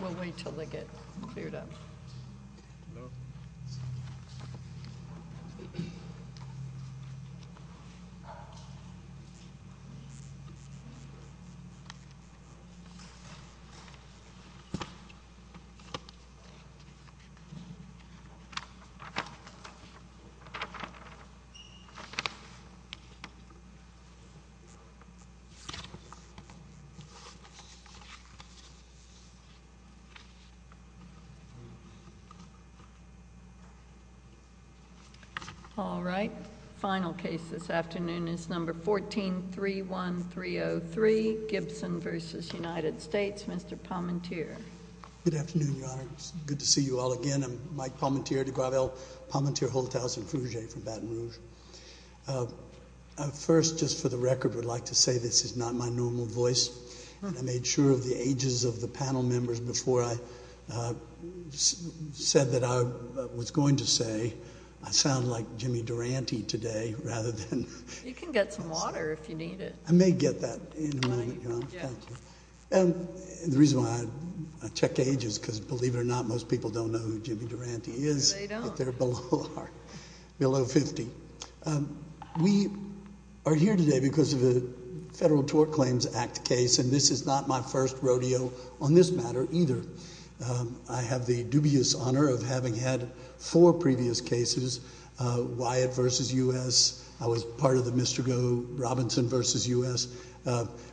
We'll wait till they get cleared up. All right, final case this afternoon is number 1431303, Gibson v. United States, Mr. Pommentier. Good afternoon, Your Honor. It's good to see you all again. I'm Mike Pommentier, de Gravel, Pommentier Hotels and Fugue from Baton Rouge. First, just for the record, I would like to say this is not my normal voice. I made sure of the ages of the panel members before I said that I was going to say I sound like Jimmy Durante today rather than… You can get some water if you need it. I may get that in a moment, Your Honor. Thank you. The reason why I check age is because, believe it or not, most people don't know who Jimmy Durante is. They don't. They're below 50. We are here today because of the Federal Tort Claims Act case, and this is not my first rodeo on this matter either. I have the dubious honor of having had four previous cases, Wyatt v. U.S. I was part of the Mr. Robinson v. U.S.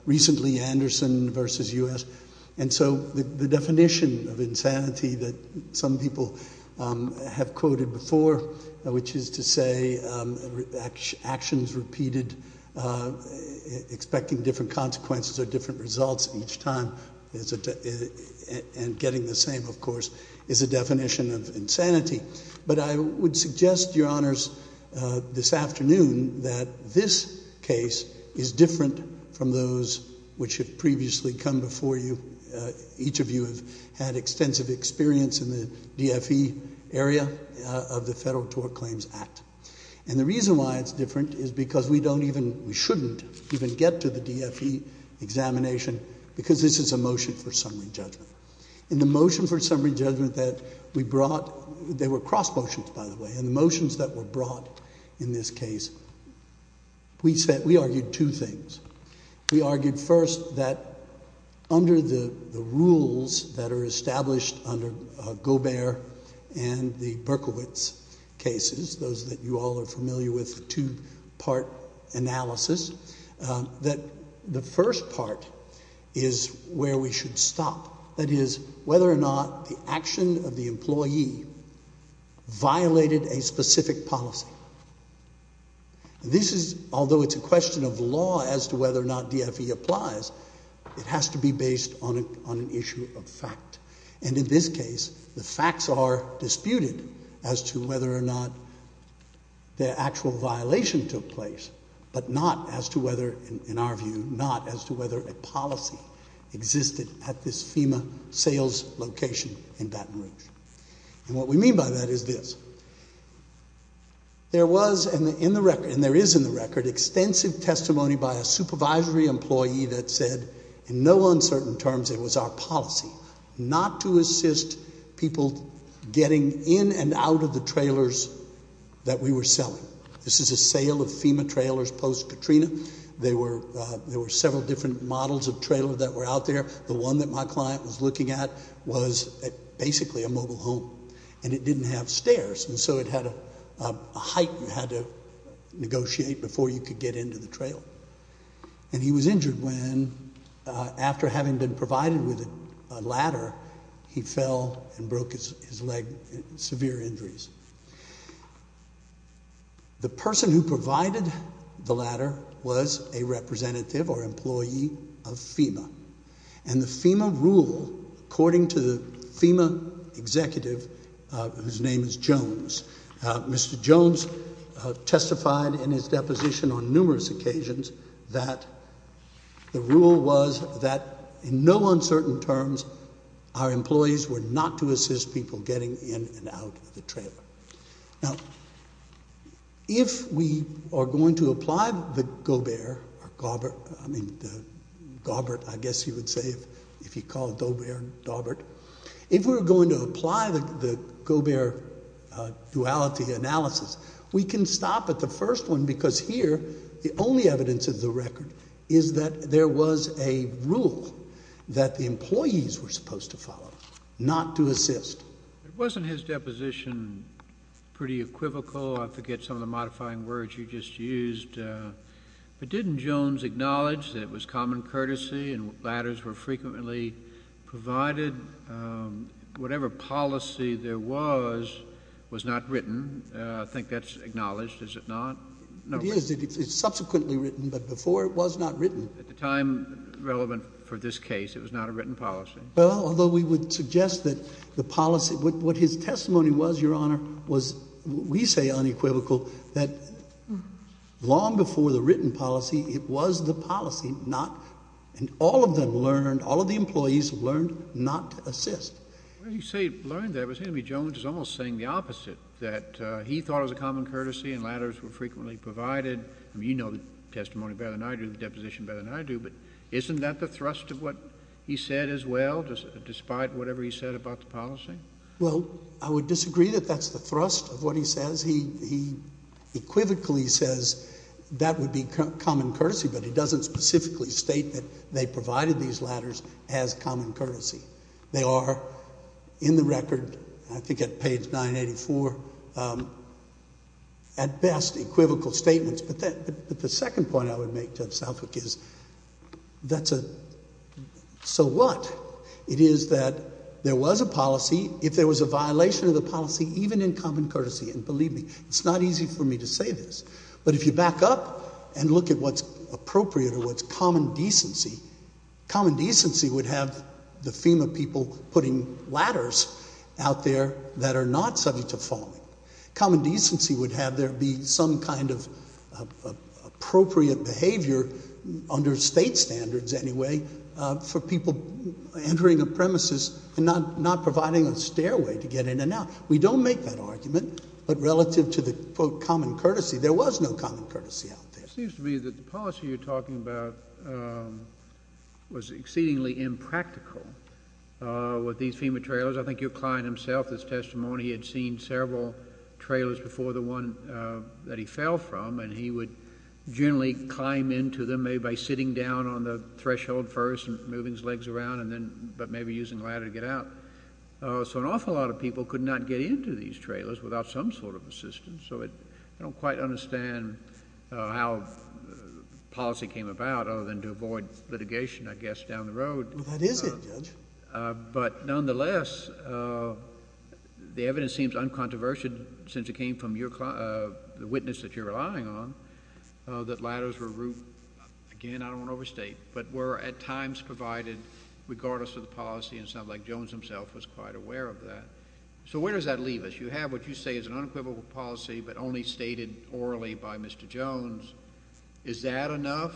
Recently, Anderson v. U.S., and so the definition of insanity that some people have quoted before, which is to say actions repeated expecting different consequences or different results each time, and getting the same, of course, is a definition of insanity. But I would suggest, Your Honors, this afternoon that this case is different from those which have previously come before you. Each of you have had extensive experience in the DFE area of the Federal Tort Claims Act. And the reason why it's different is because we don't even, we shouldn't even get to the DFE examination because this is a motion for summary judgment. In the motion for summary judgment that we brought, they were cross motions, by the way, in the motions that were brought in this case, we argued two things. We argued first that under the rules that are established under Gobert and the Berkowitz cases, those that you all are familiar with, the two-part analysis, that the first part is where we should stop. That is, whether or not the action of the employee violated a specific policy. This is, although it's a question of law as to whether or not DFE applies, it has to be based on an issue of fact. And in this case, the facts are disputed as to whether or not the actual violation took place, but not as to whether, in our view, not as to whether a policy existed at this FEMA sales location in Baton Rouge. And what we mean by that is this. There was, and there is in the record, extensive testimony by a supervisory employee that said, in no uncertain terms, it was our policy not to assist people getting in and out of the trailers that we were selling. This is a sale of FEMA trailers post-Katrina. There were several different models of trailers that were out there. The one that my client was looking at was basically a mobile home, and it didn't have stairs, and so it had a height you had to negotiate before you could get into the trailer. And he was injured when, after having been provided with a ladder, he fell and broke his leg in severe injuries. The person who provided the ladder was a representative or employee of FEMA, and the FEMA rule, according to the FEMA executive, whose name is Jones, Mr. Jones testified in his deposition on numerous occasions that the rule was that, in no uncertain terms, our employees were not to assist people getting in and out of the trailer. Now, if we are going to apply the Gobert, I guess you would say, if you call it Gobert, if we are going to apply the Gobert duality analysis, we can stop at the first one, because here the only evidence of the record is that there was a rule that the employees were supposed to follow, not to assist. It wasn't his deposition pretty equivocal. I forget some of the modifying words you just used. But didn't Jones acknowledge that it was common courtesy and ladders were frequently provided? Whatever policy there was, was not written. I think that's acknowledged, is it not? No. It is. It's subsequently written, but before it was not written. At the time relevant for this case, it was not a written policy. Well, although we would suggest that the policy, what his testimony was, Your Honor, was, we say, unequivocal, that long before the written policy, it was the policy not, and all of them learned, all of the employees learned not to assist. When you say learned that, it seemed to me Jones was almost saying the opposite, that he thought it was a common courtesy and ladders were frequently provided. I mean, you know the testimony better than I do, the deposition better than I do, but isn't that the thrust of what he said as well, despite whatever he said about the policy? Well, I would disagree that that's the thrust of what he says. He equivocally says that would be common courtesy, but he doesn't specifically state that they provided these ladders as common courtesy. They are in the record, I think at page 984, at best equivocal statements. But the second point I would make, Judge Southwick, is that's a, so what? It is that there was a policy. If there was a violation of the policy, even in common courtesy, and believe me, it's not easy for me to say this, but if you back up and look at what's appropriate or what's common decency, common decency would have the FEMA people putting ladders out there that are not subject to falling. Common decency would have there be some kind of appropriate behavior, under State standards anyway, for people entering a premises and not providing a stairway to get in and out. We don't make that argument, but relative to the, quote, common courtesy, there was no common courtesy out there. It seems to me that the policy you're talking about was exceedingly impractical with these FEMA trailers. I think your client himself, his testimony, he had seen several trailers before the one that he fell from, and he would generally climb into them maybe by sitting down on the threshold first and moving his legs around and then, but maybe using a ladder to get out. So an awful lot of people could not get into these trailers without some sort of assistance. So I don't quite understand how policy came about other than to avoid litigation, I guess, down the road. Well, that is it, Judge. But nonetheless, the evidence seems uncontroversial since it came from the witness that you're relying on, that ladders were, again, I don't want to overstate, but were at times provided regardless of the policy, and it sounds like Jones himself was quite aware of that. So where does that leave us? You have what you say is an unequivocal policy but only stated orally by Mr. Jones. Is that enough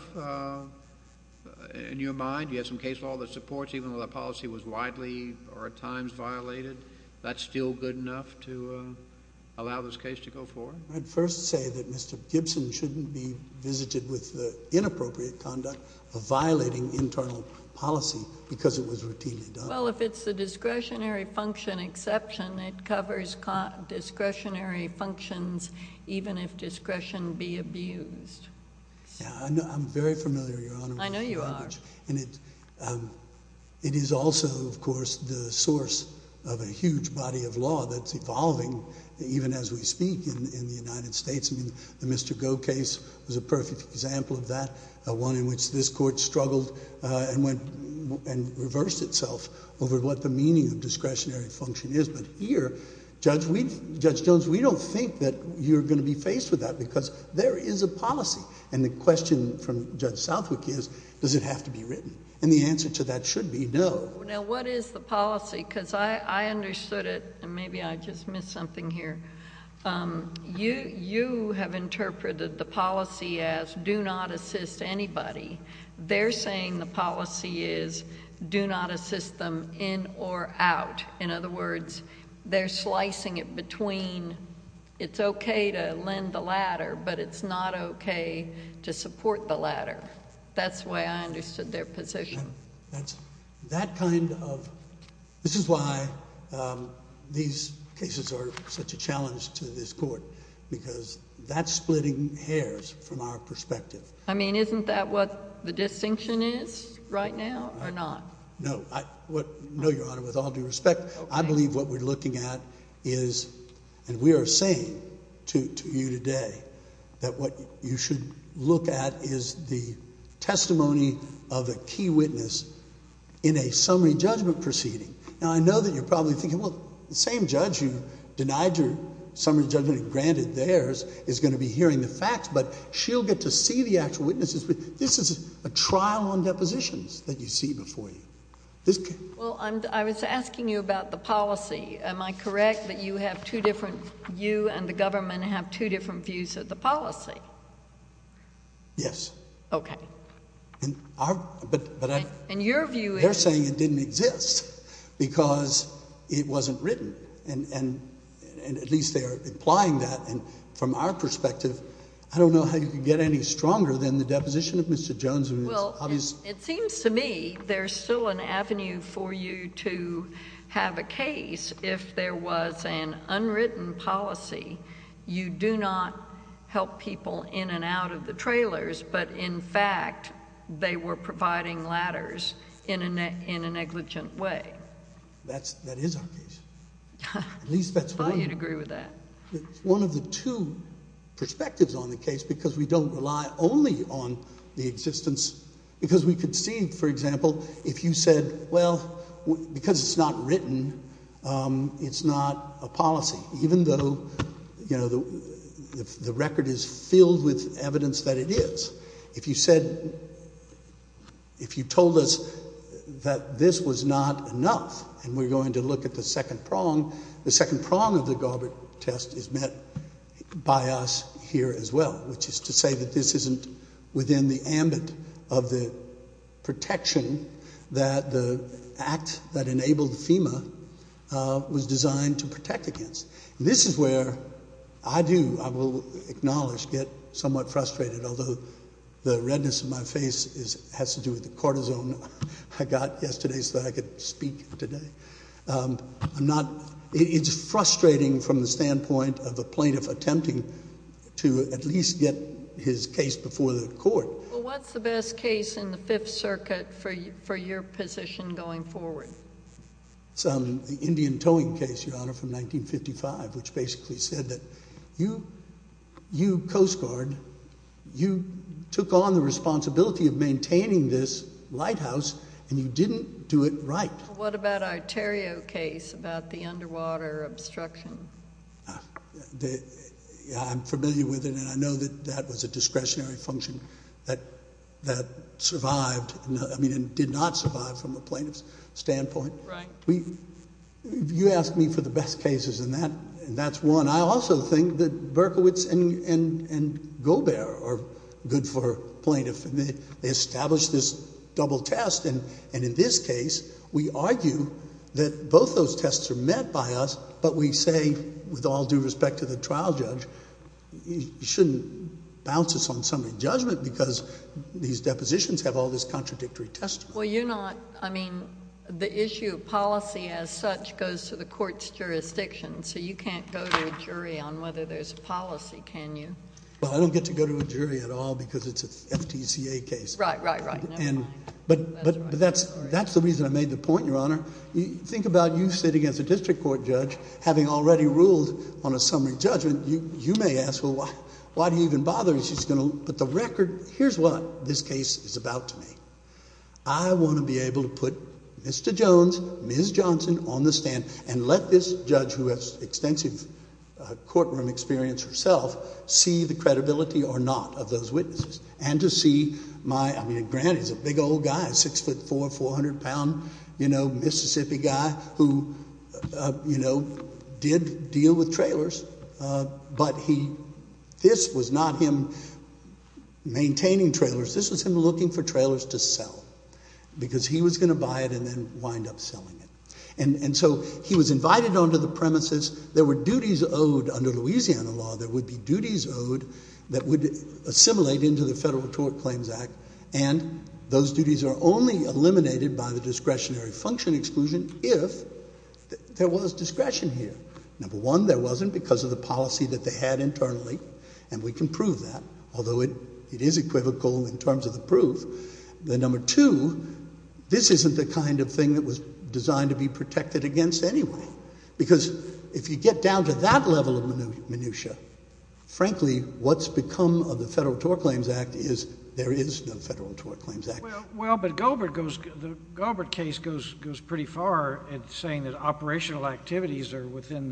in your mind? Do you have some case law that supports even though the policy was widely or at times violated, that's still good enough to allow this case to go forward? I'd first say that Mr. Gibson shouldn't be visited with the inappropriate conduct of violating internal policy because it was routinely done. Well, if it's a discretionary function exception, it covers discretionary functions even if discretion be abused. Yeah, I'm very familiar, Your Honor. I know you are. And it is also, of course, the source of a huge body of law that's evolving even as we speak in the United States. I mean, the Mr. Goh case was a perfect example of that, one in which this Court struggled and reversed itself over what the meaning of discretionary function is. But here, Judge Jones, we don't think that you're going to be faced with that because there is a policy. And the question from Judge Southwick is, does it have to be written? And the answer to that should be no. Now, what is the policy? Because I understood it, and maybe I just missed something here. You have interpreted the policy as do not assist anybody. They're saying the policy is do not assist them in or out. In other words, they're slicing it between it's okay to lend the ladder, but it's not okay to support the ladder. That's the way I understood their position. That kind of—this is why these cases are such a challenge to this Court because that's splitting hairs from our perspective. I mean, isn't that what the distinction is right now or not? No, Your Honor, with all due respect, I believe what we're looking at is—and we are saying to you today— that what you should look at is the testimony of a key witness in a summary judgment proceeding. Now, I know that you're probably thinking, well, the same judge who denied your summary judgment and granted theirs is going to be hearing the facts, but she'll get to see the actual witnesses. This is a trial on depositions that you see before you. Well, I was asking you about the policy. Am I correct that you have two different—you and the government have two different views of the policy? Yes. Okay. And your view is— They're saying it didn't exist because it wasn't written, and at least they're implying that. And from our perspective, I don't know how you could get any stronger than the deposition of Mr. Jones. Well, it seems to me there's still an avenue for you to have a case if there was an unwritten policy. You do not help people in and out of the trailers, but, in fact, they were providing ladders in a negligent way. That is our case. I thought you'd agree with that. It's one of the two perspectives on the case because we don't rely only on the existence, because we could see, for example, if you said, well, because it's not written, it's not a policy, even though, you know, the record is filled with evidence that it is. If you said—if you told us that this was not enough and we're going to look at the second prong, the second prong of the Garber test is met by us here as well, which is to say that this isn't within the ambit of the protection that the act that enabled FEMA was designed to protect against. This is where I do, I will acknowledge, get somewhat frustrated, although the redness of my face has to do with the cortisone I got yesterday so that I could speak today. I'm not—it's frustrating from the standpoint of a plaintiff attempting to at least get his case before the court. Well, what's the best case in the Fifth Circuit for your position going forward? It's the Indian towing case, Your Honor, from 1955, which basically said that you Coast Guard, you took on the responsibility of maintaining this lighthouse and you didn't do it right. What about our Theriault case about the underwater obstruction? I'm familiar with it, and I know that that was a discretionary function that survived—I mean, did not survive from a plaintiff's standpoint. Right. You asked me for the best cases, and that's one. I also think that Berkowitz and Gobert are good for plaintiff. They established this double test, and in this case, we argue that both those tests are met by us, but we say, with all due respect to the trial judge, you shouldn't bounce us on some injudgment because these depositions have all this contradictory testimony. Well, you're not—I mean, the issue of policy as such goes to the court's jurisdiction, so you can't go to a jury on whether there's a policy, can you? Well, I don't get to go to a jury at all because it's an FTCA case. Right, right, right. But that's the reason I made the point, Your Honor. Think about you sitting as a district court judge having already ruled on a summary judgment. You may ask, well, why do you even bother? She's going to put the record—here's what this case is about to me. I want to be able to put Mr. Jones, Ms. Johnson on the stand and let this judge, who has extensive courtroom experience herself, see the credibility or not of those witnesses and to see my—I mean, granted, he's a big old guy, 6'4", 400-pound, you know, Mississippi guy who, you know, did deal with trailers, but this was not him maintaining trailers. This was him looking for trailers to sell because he was going to buy it and then wind up selling it. And so he was invited onto the premises. There were duties owed under Louisiana law. There would be duties owed that would assimilate into the Federal Tort Claims Act, and those duties are only eliminated by the discretionary function exclusion if there was discretion here. Number one, there wasn't because of the policy that they had internally, and we can prove that, although it is equivocal in terms of the proof. Number two, this isn't the kind of thing that was designed to be protected against anyway because if you get down to that level of minutiae, frankly, what's become of the Federal Tort Claims Act is there is no Federal Tort Claims Act. Well, but the Gilbert case goes pretty far in saying that operational activities are within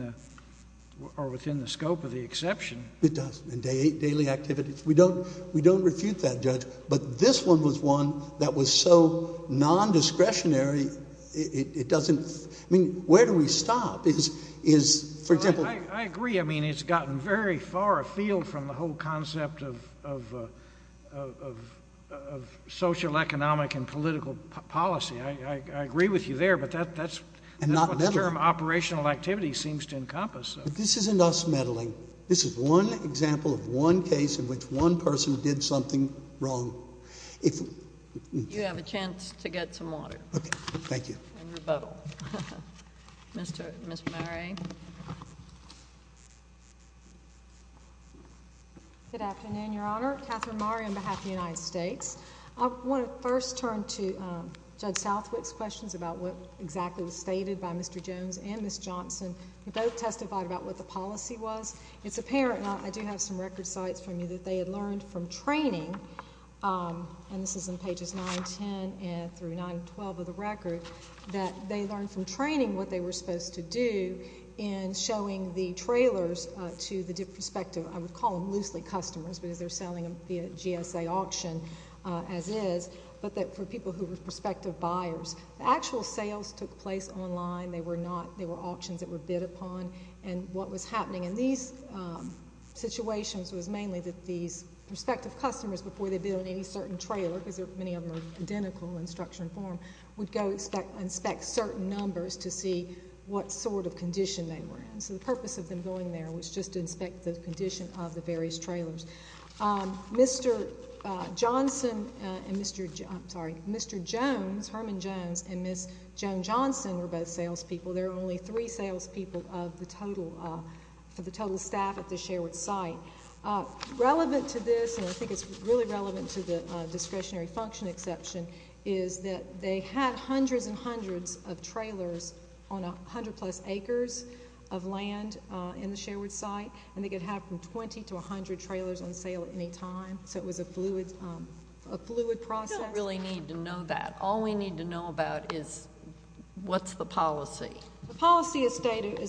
the scope of the exception. It does, and daily activities. We don't refute that, Judge, but this one was one that was so nondiscretionary it doesn't – I mean, where do we stop is, for example – I agree. I mean, it's gotten very far afield from the whole concept of social, economic, and political policy. I agree with you there, but that's what the term operational activity seems to encompass. But this isn't us meddling. This is one example of one case in which one person did something wrong. If – You have a chance to get some water. Okay. Thank you. And rebuttal. Ms. Murray. Good afternoon, Your Honor. Katherine Murray on behalf of the United States. I want to first turn to Judge Southwick's questions about what exactly was stated by Mr. Jones and Ms. Johnson. They both testified about what the policy was. It's apparent, and I do have some record cites from you, that they had learned from training – and this is in pages 9, 10 through 9, 12 of the record – that they learned from training what they were supposed to do in showing the trailers to the prospective – I would call them loosely customers because they're selling them via GSA auction as is – but that for people who were prospective buyers. The actual sales took place online. They were auctions that were bid upon. And what was happening in these situations was mainly that these prospective customers, before they bid on any certain trailer, because many of them are identical in structure and form, would go inspect certain numbers to see what sort of condition they were in. So the purpose of them going there was just to inspect the condition of the various trailers. Mr. Jones, Herman Jones, and Ms. Joan Johnson were both salespeople. There were only three salespeople for the total staff at the Sherwood site. Relevant to this, and I think it's really relevant to the discretionary function exception, is that they had hundreds and hundreds of trailers on 100-plus acres of land in the Sherwood site, and they could have from 20 to 100 trailers on sale at any time. So it was a fluid process. We don't really need to know that. All we need to know about is what's the policy. The policy is stated, and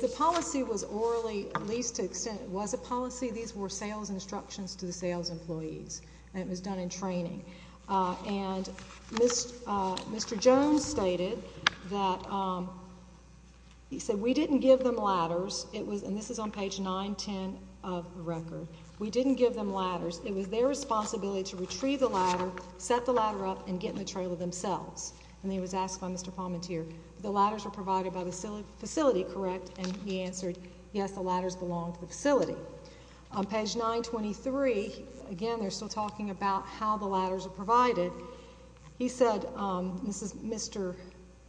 the policy was orally, at least to an extent, was a policy. These were sales instructions to the sales employees, and it was done in training. And Mr. Jones stated that, he said, we didn't give them ladders. And this is on page 910 of the record. We didn't give them ladders. It was their responsibility to retrieve the ladder, set the ladder up, and get in the trailer themselves. And he was asked by Mr. Palmentier, the ladders were provided by the facility, correct? And he answered, yes, the ladders belong to the facility. On page 923, again, they're still talking about how the ladders are provided. He said, this is Mr.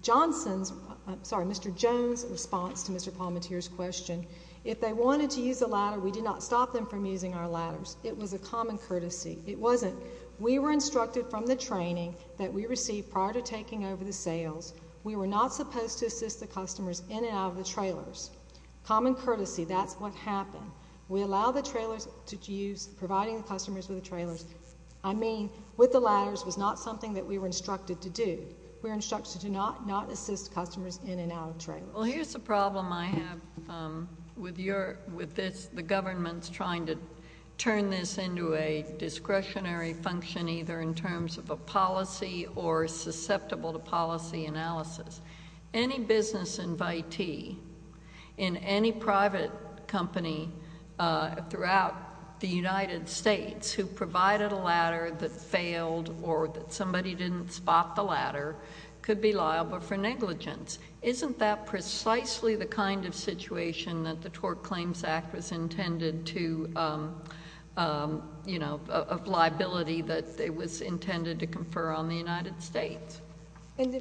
Johnson's, I'm sorry, Mr. Jones' response to Mr. Palmentier's question. If they wanted to use a ladder, we did not stop them from using our ladders. It was a common courtesy. It wasn't. We were instructed from the training that we received prior to taking over the sales. We were not supposed to assist the customers in and out of the trailers. Common courtesy, that's what happened. We allowed the trailers to use, providing the customers with the trailers. I mean, with the ladders was not something that we were instructed to do. We were instructed to not assist customers in and out of trailers. Well, here's the problem I have with the government's trying to turn this into a discretionary function, either in terms of a policy or susceptible to policy analysis. Any business invitee in any private company throughout the United States who provided a ladder that failed or that somebody didn't spot the ladder could be liable for negligence. Isn't that precisely the kind of situation that the Tort Claims Act was intended to, of liability that it was intended to confer on the United States? In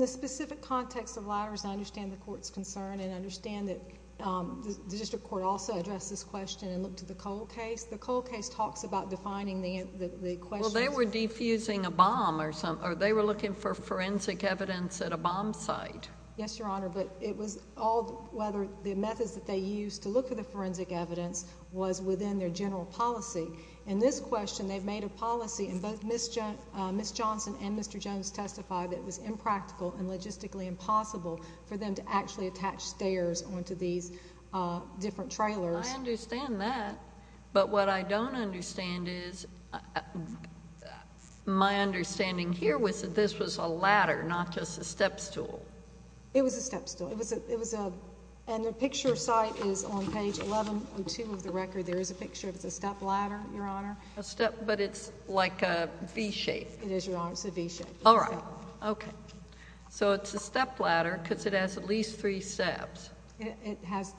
the specific context of ladders, I understand the Court's concern and I understand that the district court also addressed this question and looked at the Cole case. The Cole case talks about defining the questions... Well, they were defusing a bomb or they were looking for forensic evidence at a bomb site. Yes, Your Honor, but it was all whether the methods that they used to look for the forensic evidence was within their general policy. In this question, they've made a policy and both Ms. Johnson and Mr. Jones testified that it was impractical and logistically impossible for them to actually attach stairs onto these different trailers. I understand that, but what I don't understand is my understanding here was that this was a ladder, not just a stepstool. It was a stepstool. And the picture site is on page 1102 of the record. There is a picture of the step ladder, Your Honor. A step, but it's like a V-shape. It is, Your Honor. It's a V-shape. All right. Okay. So it's a step ladder because it has at least three steps. It has,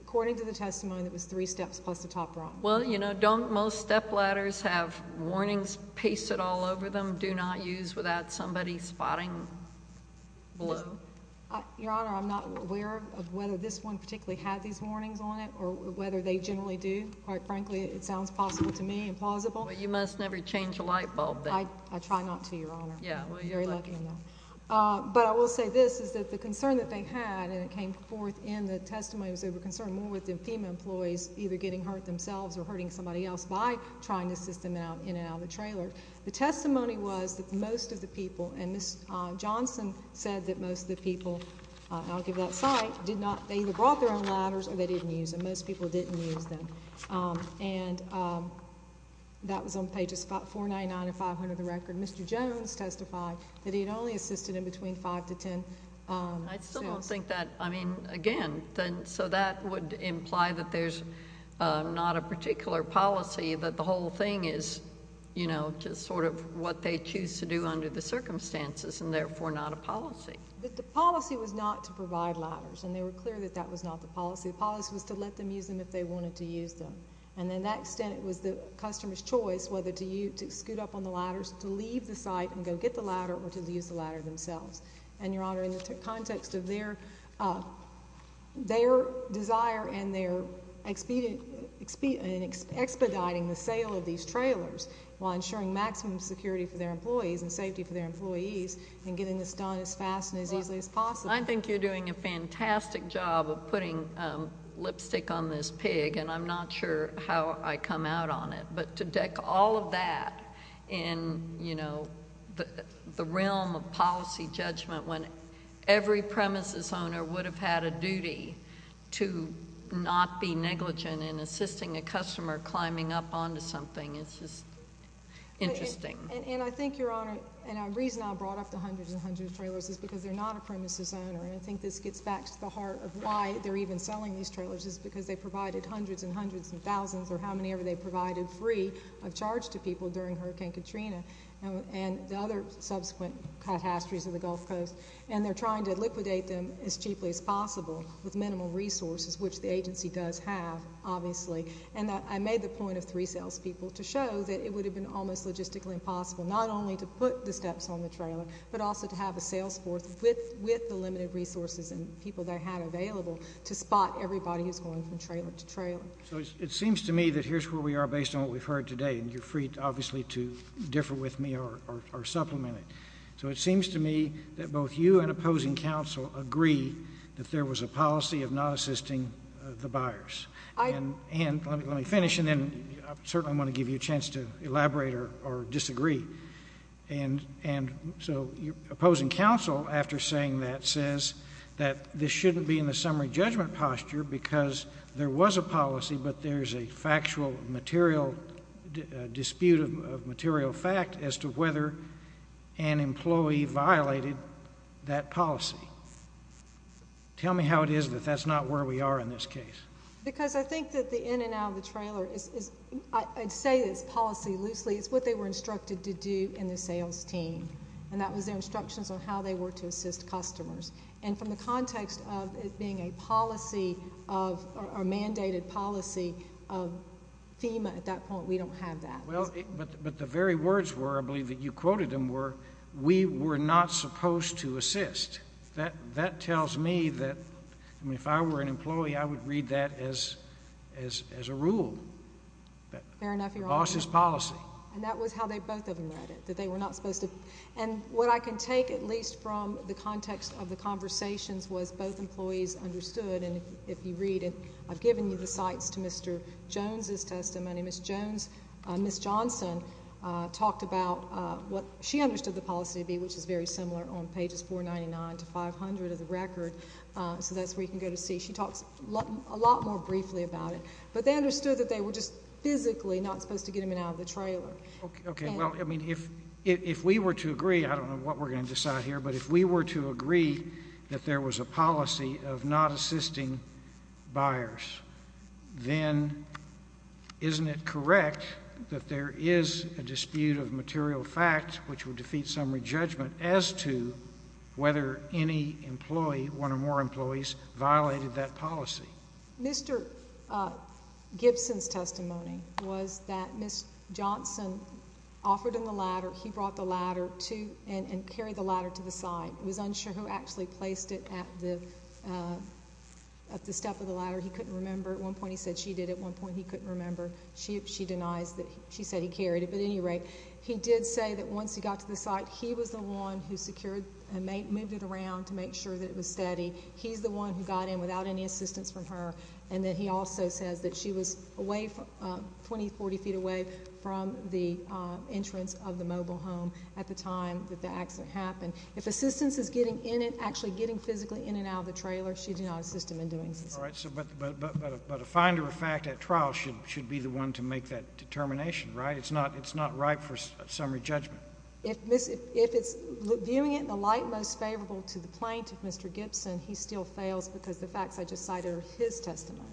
according to the testimony, it was three steps plus the top rung. Well, you know, don't most step ladders have warnings pasted all over them, do not use without somebody spotting below? Your Honor, I'm not aware of whether this one particularly had these warnings on it or whether they generally do. Quite frankly, it sounds possible to me, implausible. Well, you must never change a light bulb then. I try not to, Your Honor. Yeah, well, you're lucky. But I will say this is that the concern that they had, and it came forth in the testimony, was they were concerned more with the FEMA employees either getting hurt themselves or hurting somebody else by trying to assist them in and out of the trailer. The testimony was that most of the people, and Ms. Johnson said that most of the people, I'll give that site, did not, they either brought their own ladders or they didn't use them. Most people didn't use them. And that was on pages 499 and 500 of the record. Mr. Jones testified that he had only assisted in between five to ten students. I still don't think that, I mean, again, so that would imply that there's not a particular policy that the whole thing is, you know, such as sort of what they choose to do under the circumstances and therefore not a policy. But the policy was not to provide ladders, and they were clear that that was not the policy. The policy was to let them use them if they wanted to use them. And to that extent, it was the customer's choice whether to scoot up on the ladders, to leave the site and go get the ladder, or to use the ladder themselves. And, Your Honor, in the context of their desire and their expediting the sale of these trailers while ensuring maximum security for their employees and safety for their employees and getting this done as fast and as easily as possible. I think you're doing a fantastic job of putting lipstick on this pig, and I'm not sure how I come out on it. But to deck all of that in, you know, the realm of policy judgment when every premises owner would have had a duty to not be negligent in assisting a customer climbing up onto something is just interesting. And I think, Your Honor, and the reason I brought up the hundreds and hundreds of trailers is because they're not a premises owner, and I think this gets back to the heart of why they're even selling these trailers is because they provided hundreds and hundreds and thousands or however many they provided free of charge to people during Hurricane Katrina and the other subsequent catastrophes of the Gulf Coast, and they're trying to liquidate them as cheaply as possible with minimal resources, which the agency does have, obviously. And I made the point of three salespeople to show that it would have been almost logistically impossible not only to put the steps on the trailer, but also to have a sales force with the limited resources and people they had available to spot everybody who's going from trailer to trailer. So it seems to me that here's where we are based on what we've heard today, and you're free, obviously, to differ with me or supplement it. So it seems to me that both you and opposing counsel agree that there was a policy of not assisting the buyers. And let me finish, and then I certainly want to give you a chance to elaborate or disagree. And so opposing counsel, after saying that, says that this shouldn't be in the summary judgment posture because there was a policy, but there's a factual material dispute of material fact as to whether an employee violated that policy. Tell me how it is that that's not where we are in this case. Because I think that the in and out of the trailer is, I'd say it's policy loosely. It's what they were instructed to do in the sales team, and that was their instructions on how they were to assist customers. And from the context of it being a policy or a mandated policy of FEMA at that point, we don't have that. Well, but the very words were, I believe, that you quoted them were, we were not supposed to assist. That tells me that, I mean, if I were an employee, I would read that as a rule. Fair enough, Your Honor. The boss's policy. And that was how they both of them read it, that they were not supposed to. And what I can take at least from the context of the conversations was both employees understood, and if you read it, I've given you the cites to Mr. Jones' testimony. Ms. Jones, Ms. Johnson talked about what she understood the policy to be, which is very similar on pages 499 to 500 of the record, so that's where you can go to see. She talks a lot more briefly about it. But they understood that they were just physically not supposed to get them in and out of the trailer. Okay. Well, I mean, if we were to agree, I don't know what we're going to decide here, but if we were to agree that there was a policy of not assisting buyers, then isn't it correct that there is a dispute of material fact which would defeat summary judgment as to whether any employee, one or more employees, violated that policy? Mr. Gibson's testimony was that Ms. Johnson offered him the ladder. He brought the ladder and carried the ladder to the site. He was unsure who actually placed it at the step of the ladder. He couldn't remember. At one point he said she did. At one point he couldn't remember. She denies that she said he carried it. But at any rate, he did say that once he got to the site, he was the one who secured and moved it around to make sure that it was steady. He's the one who got in without any assistance from her. And then he also says that she was 20, 40 feet away from the entrance of the mobile home at the time that the accident happened. If assistance is getting in and actually getting physically in and out of the trailer, she did not assist him in doing so. All right. But a finder of fact at trial should be the one to make that determination, right? It's not right for summary judgment. If it's viewing it in the light most favorable to the plaintiff, Mr. Gibson, he still fails because the facts I just cited are his testimony.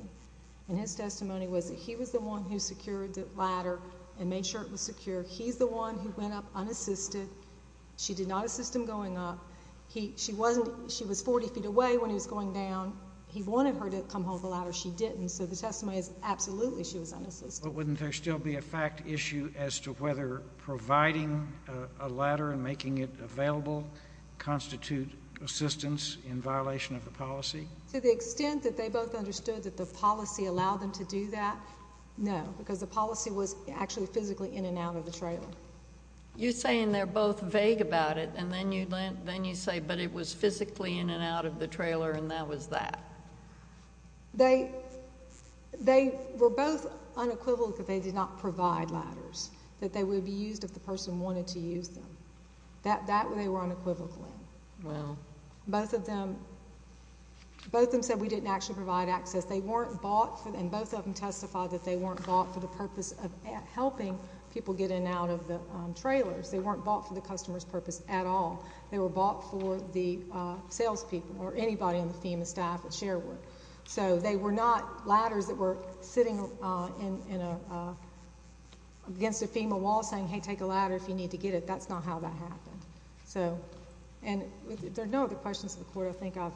And his testimony was that he was the one who secured the ladder and made sure it was secure. He's the one who went up unassisted. She did not assist him going up. She was 40 feet away when he was going down. He wanted her to come hold the ladder. She didn't. So the testimony is absolutely she was unassisted. But wouldn't there still be a fact issue as to whether providing a ladder and making it available constitute assistance in violation of the policy? To the extent that they both understood that the policy allowed them to do that, no, because the policy was actually physically in and out of the trailer. You're saying they're both vague about it, and then you say but it was physically in and out of the trailer and that was that. They were both unequivocal that they did not provide ladders, that they would be used if the person wanted to use them. That they were unequivocal in. Both of them said we didn't actually provide access. They weren't bought, and both of them testified that they weren't bought for the purpose of helping people get in and out of the trailers. They weren't bought for the customer's purpose at all. They were bought for the salespeople or anybody on the FEMA staff at Sherwood. So they were not ladders that were sitting against a FEMA wall saying, hey, take a ladder if you need to get it. That's not how that happened. And there are no other questions of the Court I think I've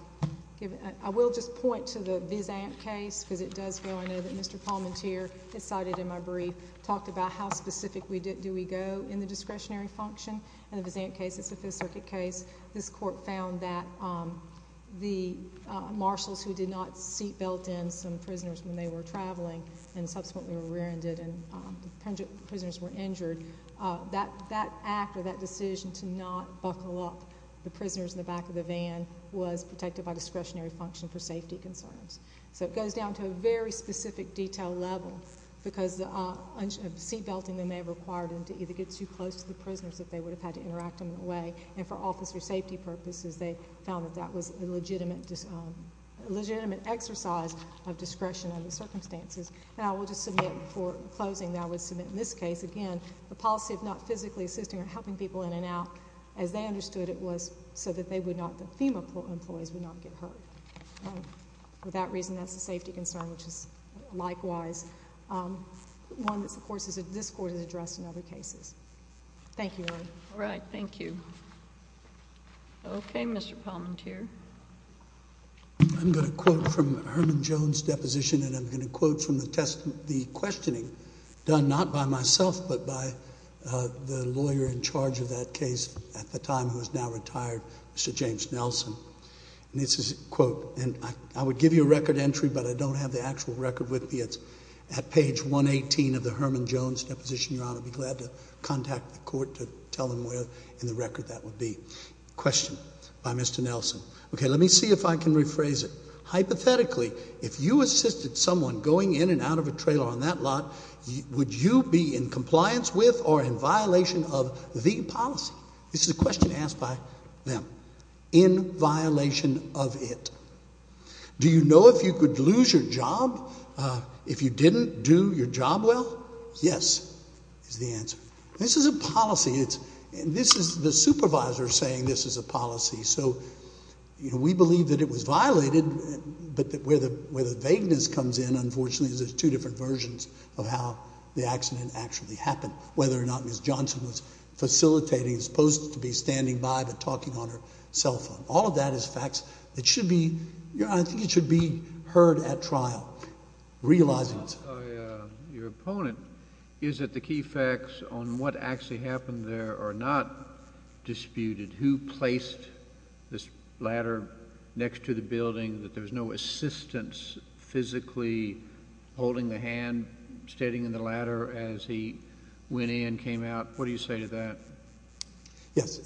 given. I will just point to the Vis Amp case because it does go into it. Mr. Palmentier, as cited in my brief, talked about how specific do we go in the discretionary function. In the Vis Amp case, it's a Fifth Circuit case, this Court found that the marshals who did not seat belt in some prisoners when they were traveling and subsequently were rear-ended and the prisoners were injured, that act or that decision to not buckle up the prisoners in the back of the van was protected by discretionary function for safety concerns. So it goes down to a very specific detail level because seat belting may have required them to either get too close to the prisoners if they would have had to interact in a way. And for officer safety purposes, they found that that was a legitimate exercise of discretion under the circumstances. And I will just submit for closing that I would submit in this case, again, the policy of not physically assisting or helping people in and out, as they understood it was so that the FEMA employees would not get hurt. For that reason, that's a safety concern, which is likewise one that, of course, this Court has addressed in other cases. Thank you. All right. Thank you. Okay. Mr. Palmentier. I'm going to quote from Herman Jones' deposition and I'm going to quote from the questioning done not by myself but by the lawyer in charge of that case at the time who is now retired, Mr. James Nelson. And this is a quote, and I would give you a record entry, but I don't have the actual record with me. It's at page 118 of the Herman Jones' deposition, Your Honor. I'd be glad to contact the Court to tell them where in the record that would be. Question by Mr. Nelson. Okay. Let me see if I can rephrase it. Hypothetically, if you assisted someone going in and out of a trailer on that lot, would you be in compliance with or in violation of the policy? This is a question asked by them. In violation of it. Do you know if you could lose your job if you didn't do your job well? Yes, is the answer. This is a policy. This is the supervisor saying this is a policy. So we believe that it was violated, but where the vagueness comes in, unfortunately, is there's two different versions of how the accident actually happened, whether or not Ms. Johnson was facilitating, supposed to be standing by but talking on her cell phone. All of that is facts that should be heard at trial, realizing it. Your opponent, is it the key facts on what actually happened there are not disputed? Who placed this ladder next to the building, that there was no assistance physically holding the hand, standing in the ladder as he went in, came out? What do you say to that? Yes.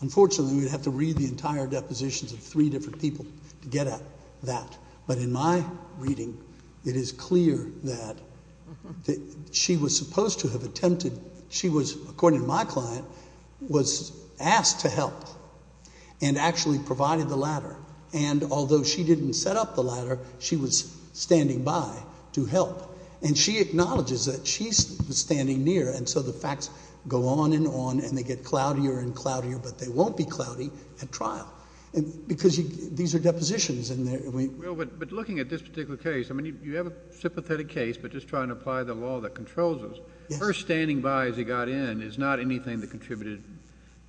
Unfortunately, we'd have to read the entire depositions of three different people to get at that. But in my reading, it is clear that she was supposed to have attempted. She was, according to my client, was asked to help and actually provided the ladder. And although she didn't set up the ladder, she was standing by to help. And she acknowledges that she was standing near, and so the facts go on and on and they get cloudier and cloudier, but they won't be cloudy at trial because these are depositions. But looking at this particular case, I mean, you have a sympathetic case, but just trying to apply the law that controls us. First standing by as he got in is not anything that contributed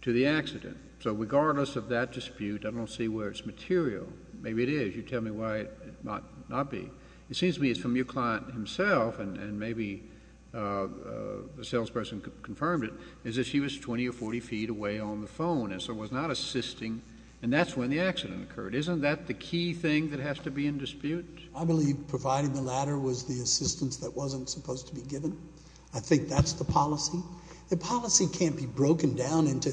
to the accident. So regardless of that dispute, I don't see where it's material. Maybe it is. You tell me why it might not be. But it seems to me from your client himself, and maybe the salesperson confirmed it, is that she was 20 or 40 feet away on the phone and so was not assisting, and that's when the accident occurred. Isn't that the key thing that has to be in dispute? I believe providing the ladder was the assistance that wasn't supposed to be given. I think that's the policy. The policy can't be broken down into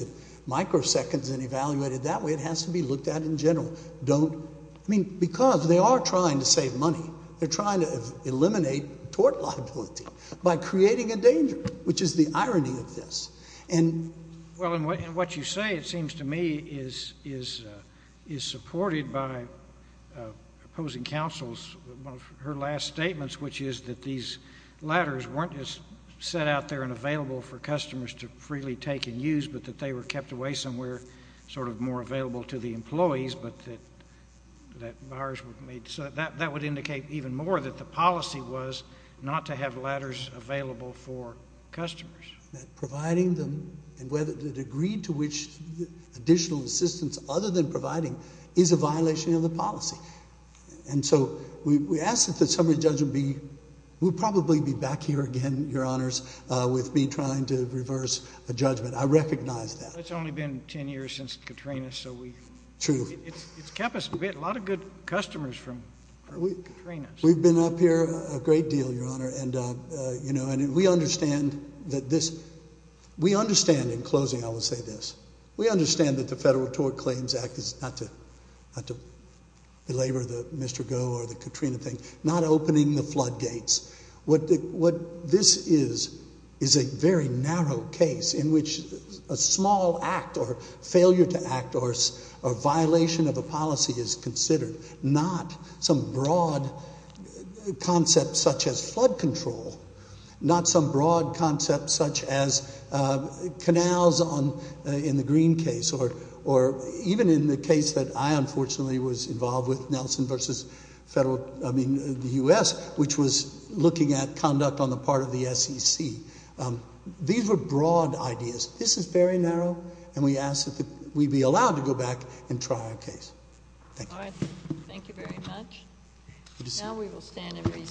microseconds and evaluated that way. It has to be looked at in general. I mean, because they are trying to save money. They're trying to eliminate tort liability by creating a danger, which is the irony of this. And what you say, it seems to me, is supported by opposing counsel's last statements, which is that these ladders weren't just set out there and available for customers to freely take and use but that they were kept away somewhere sort of more available to the employees, but that that would indicate even more that the policy was not to have ladders available for customers. That providing them and the degree to which additional assistance other than providing is a violation of the policy. And so we ask that the summary judge would probably be back here again, Your Honors, with me trying to reverse a judgment. I recognize that. It's only been ten years since Katrina. So it's kept us a lot of good customers from Katrina. We've been up here a great deal, Your Honor. And we understand that this, we understand, in closing I will say this, we understand that the Federal Tort Claims Act is not to belabor the Mr. Goh or the Katrina thing, not opening the floodgates. What this is is a very narrow case in which a small act or failure to act or a violation of a policy is considered, not some broad concept such as flood control, not some broad concept such as canals in the Green case or even in the case that I unfortunately was involved with, Nelson v. Federal, I mean the U.S., which was looking at conduct on the part of the SEC. These were broad ideas. This is very narrow, and we ask that we be allowed to go back and try our case. Thank you. All right. Thank you very much. Now we will stand in recess.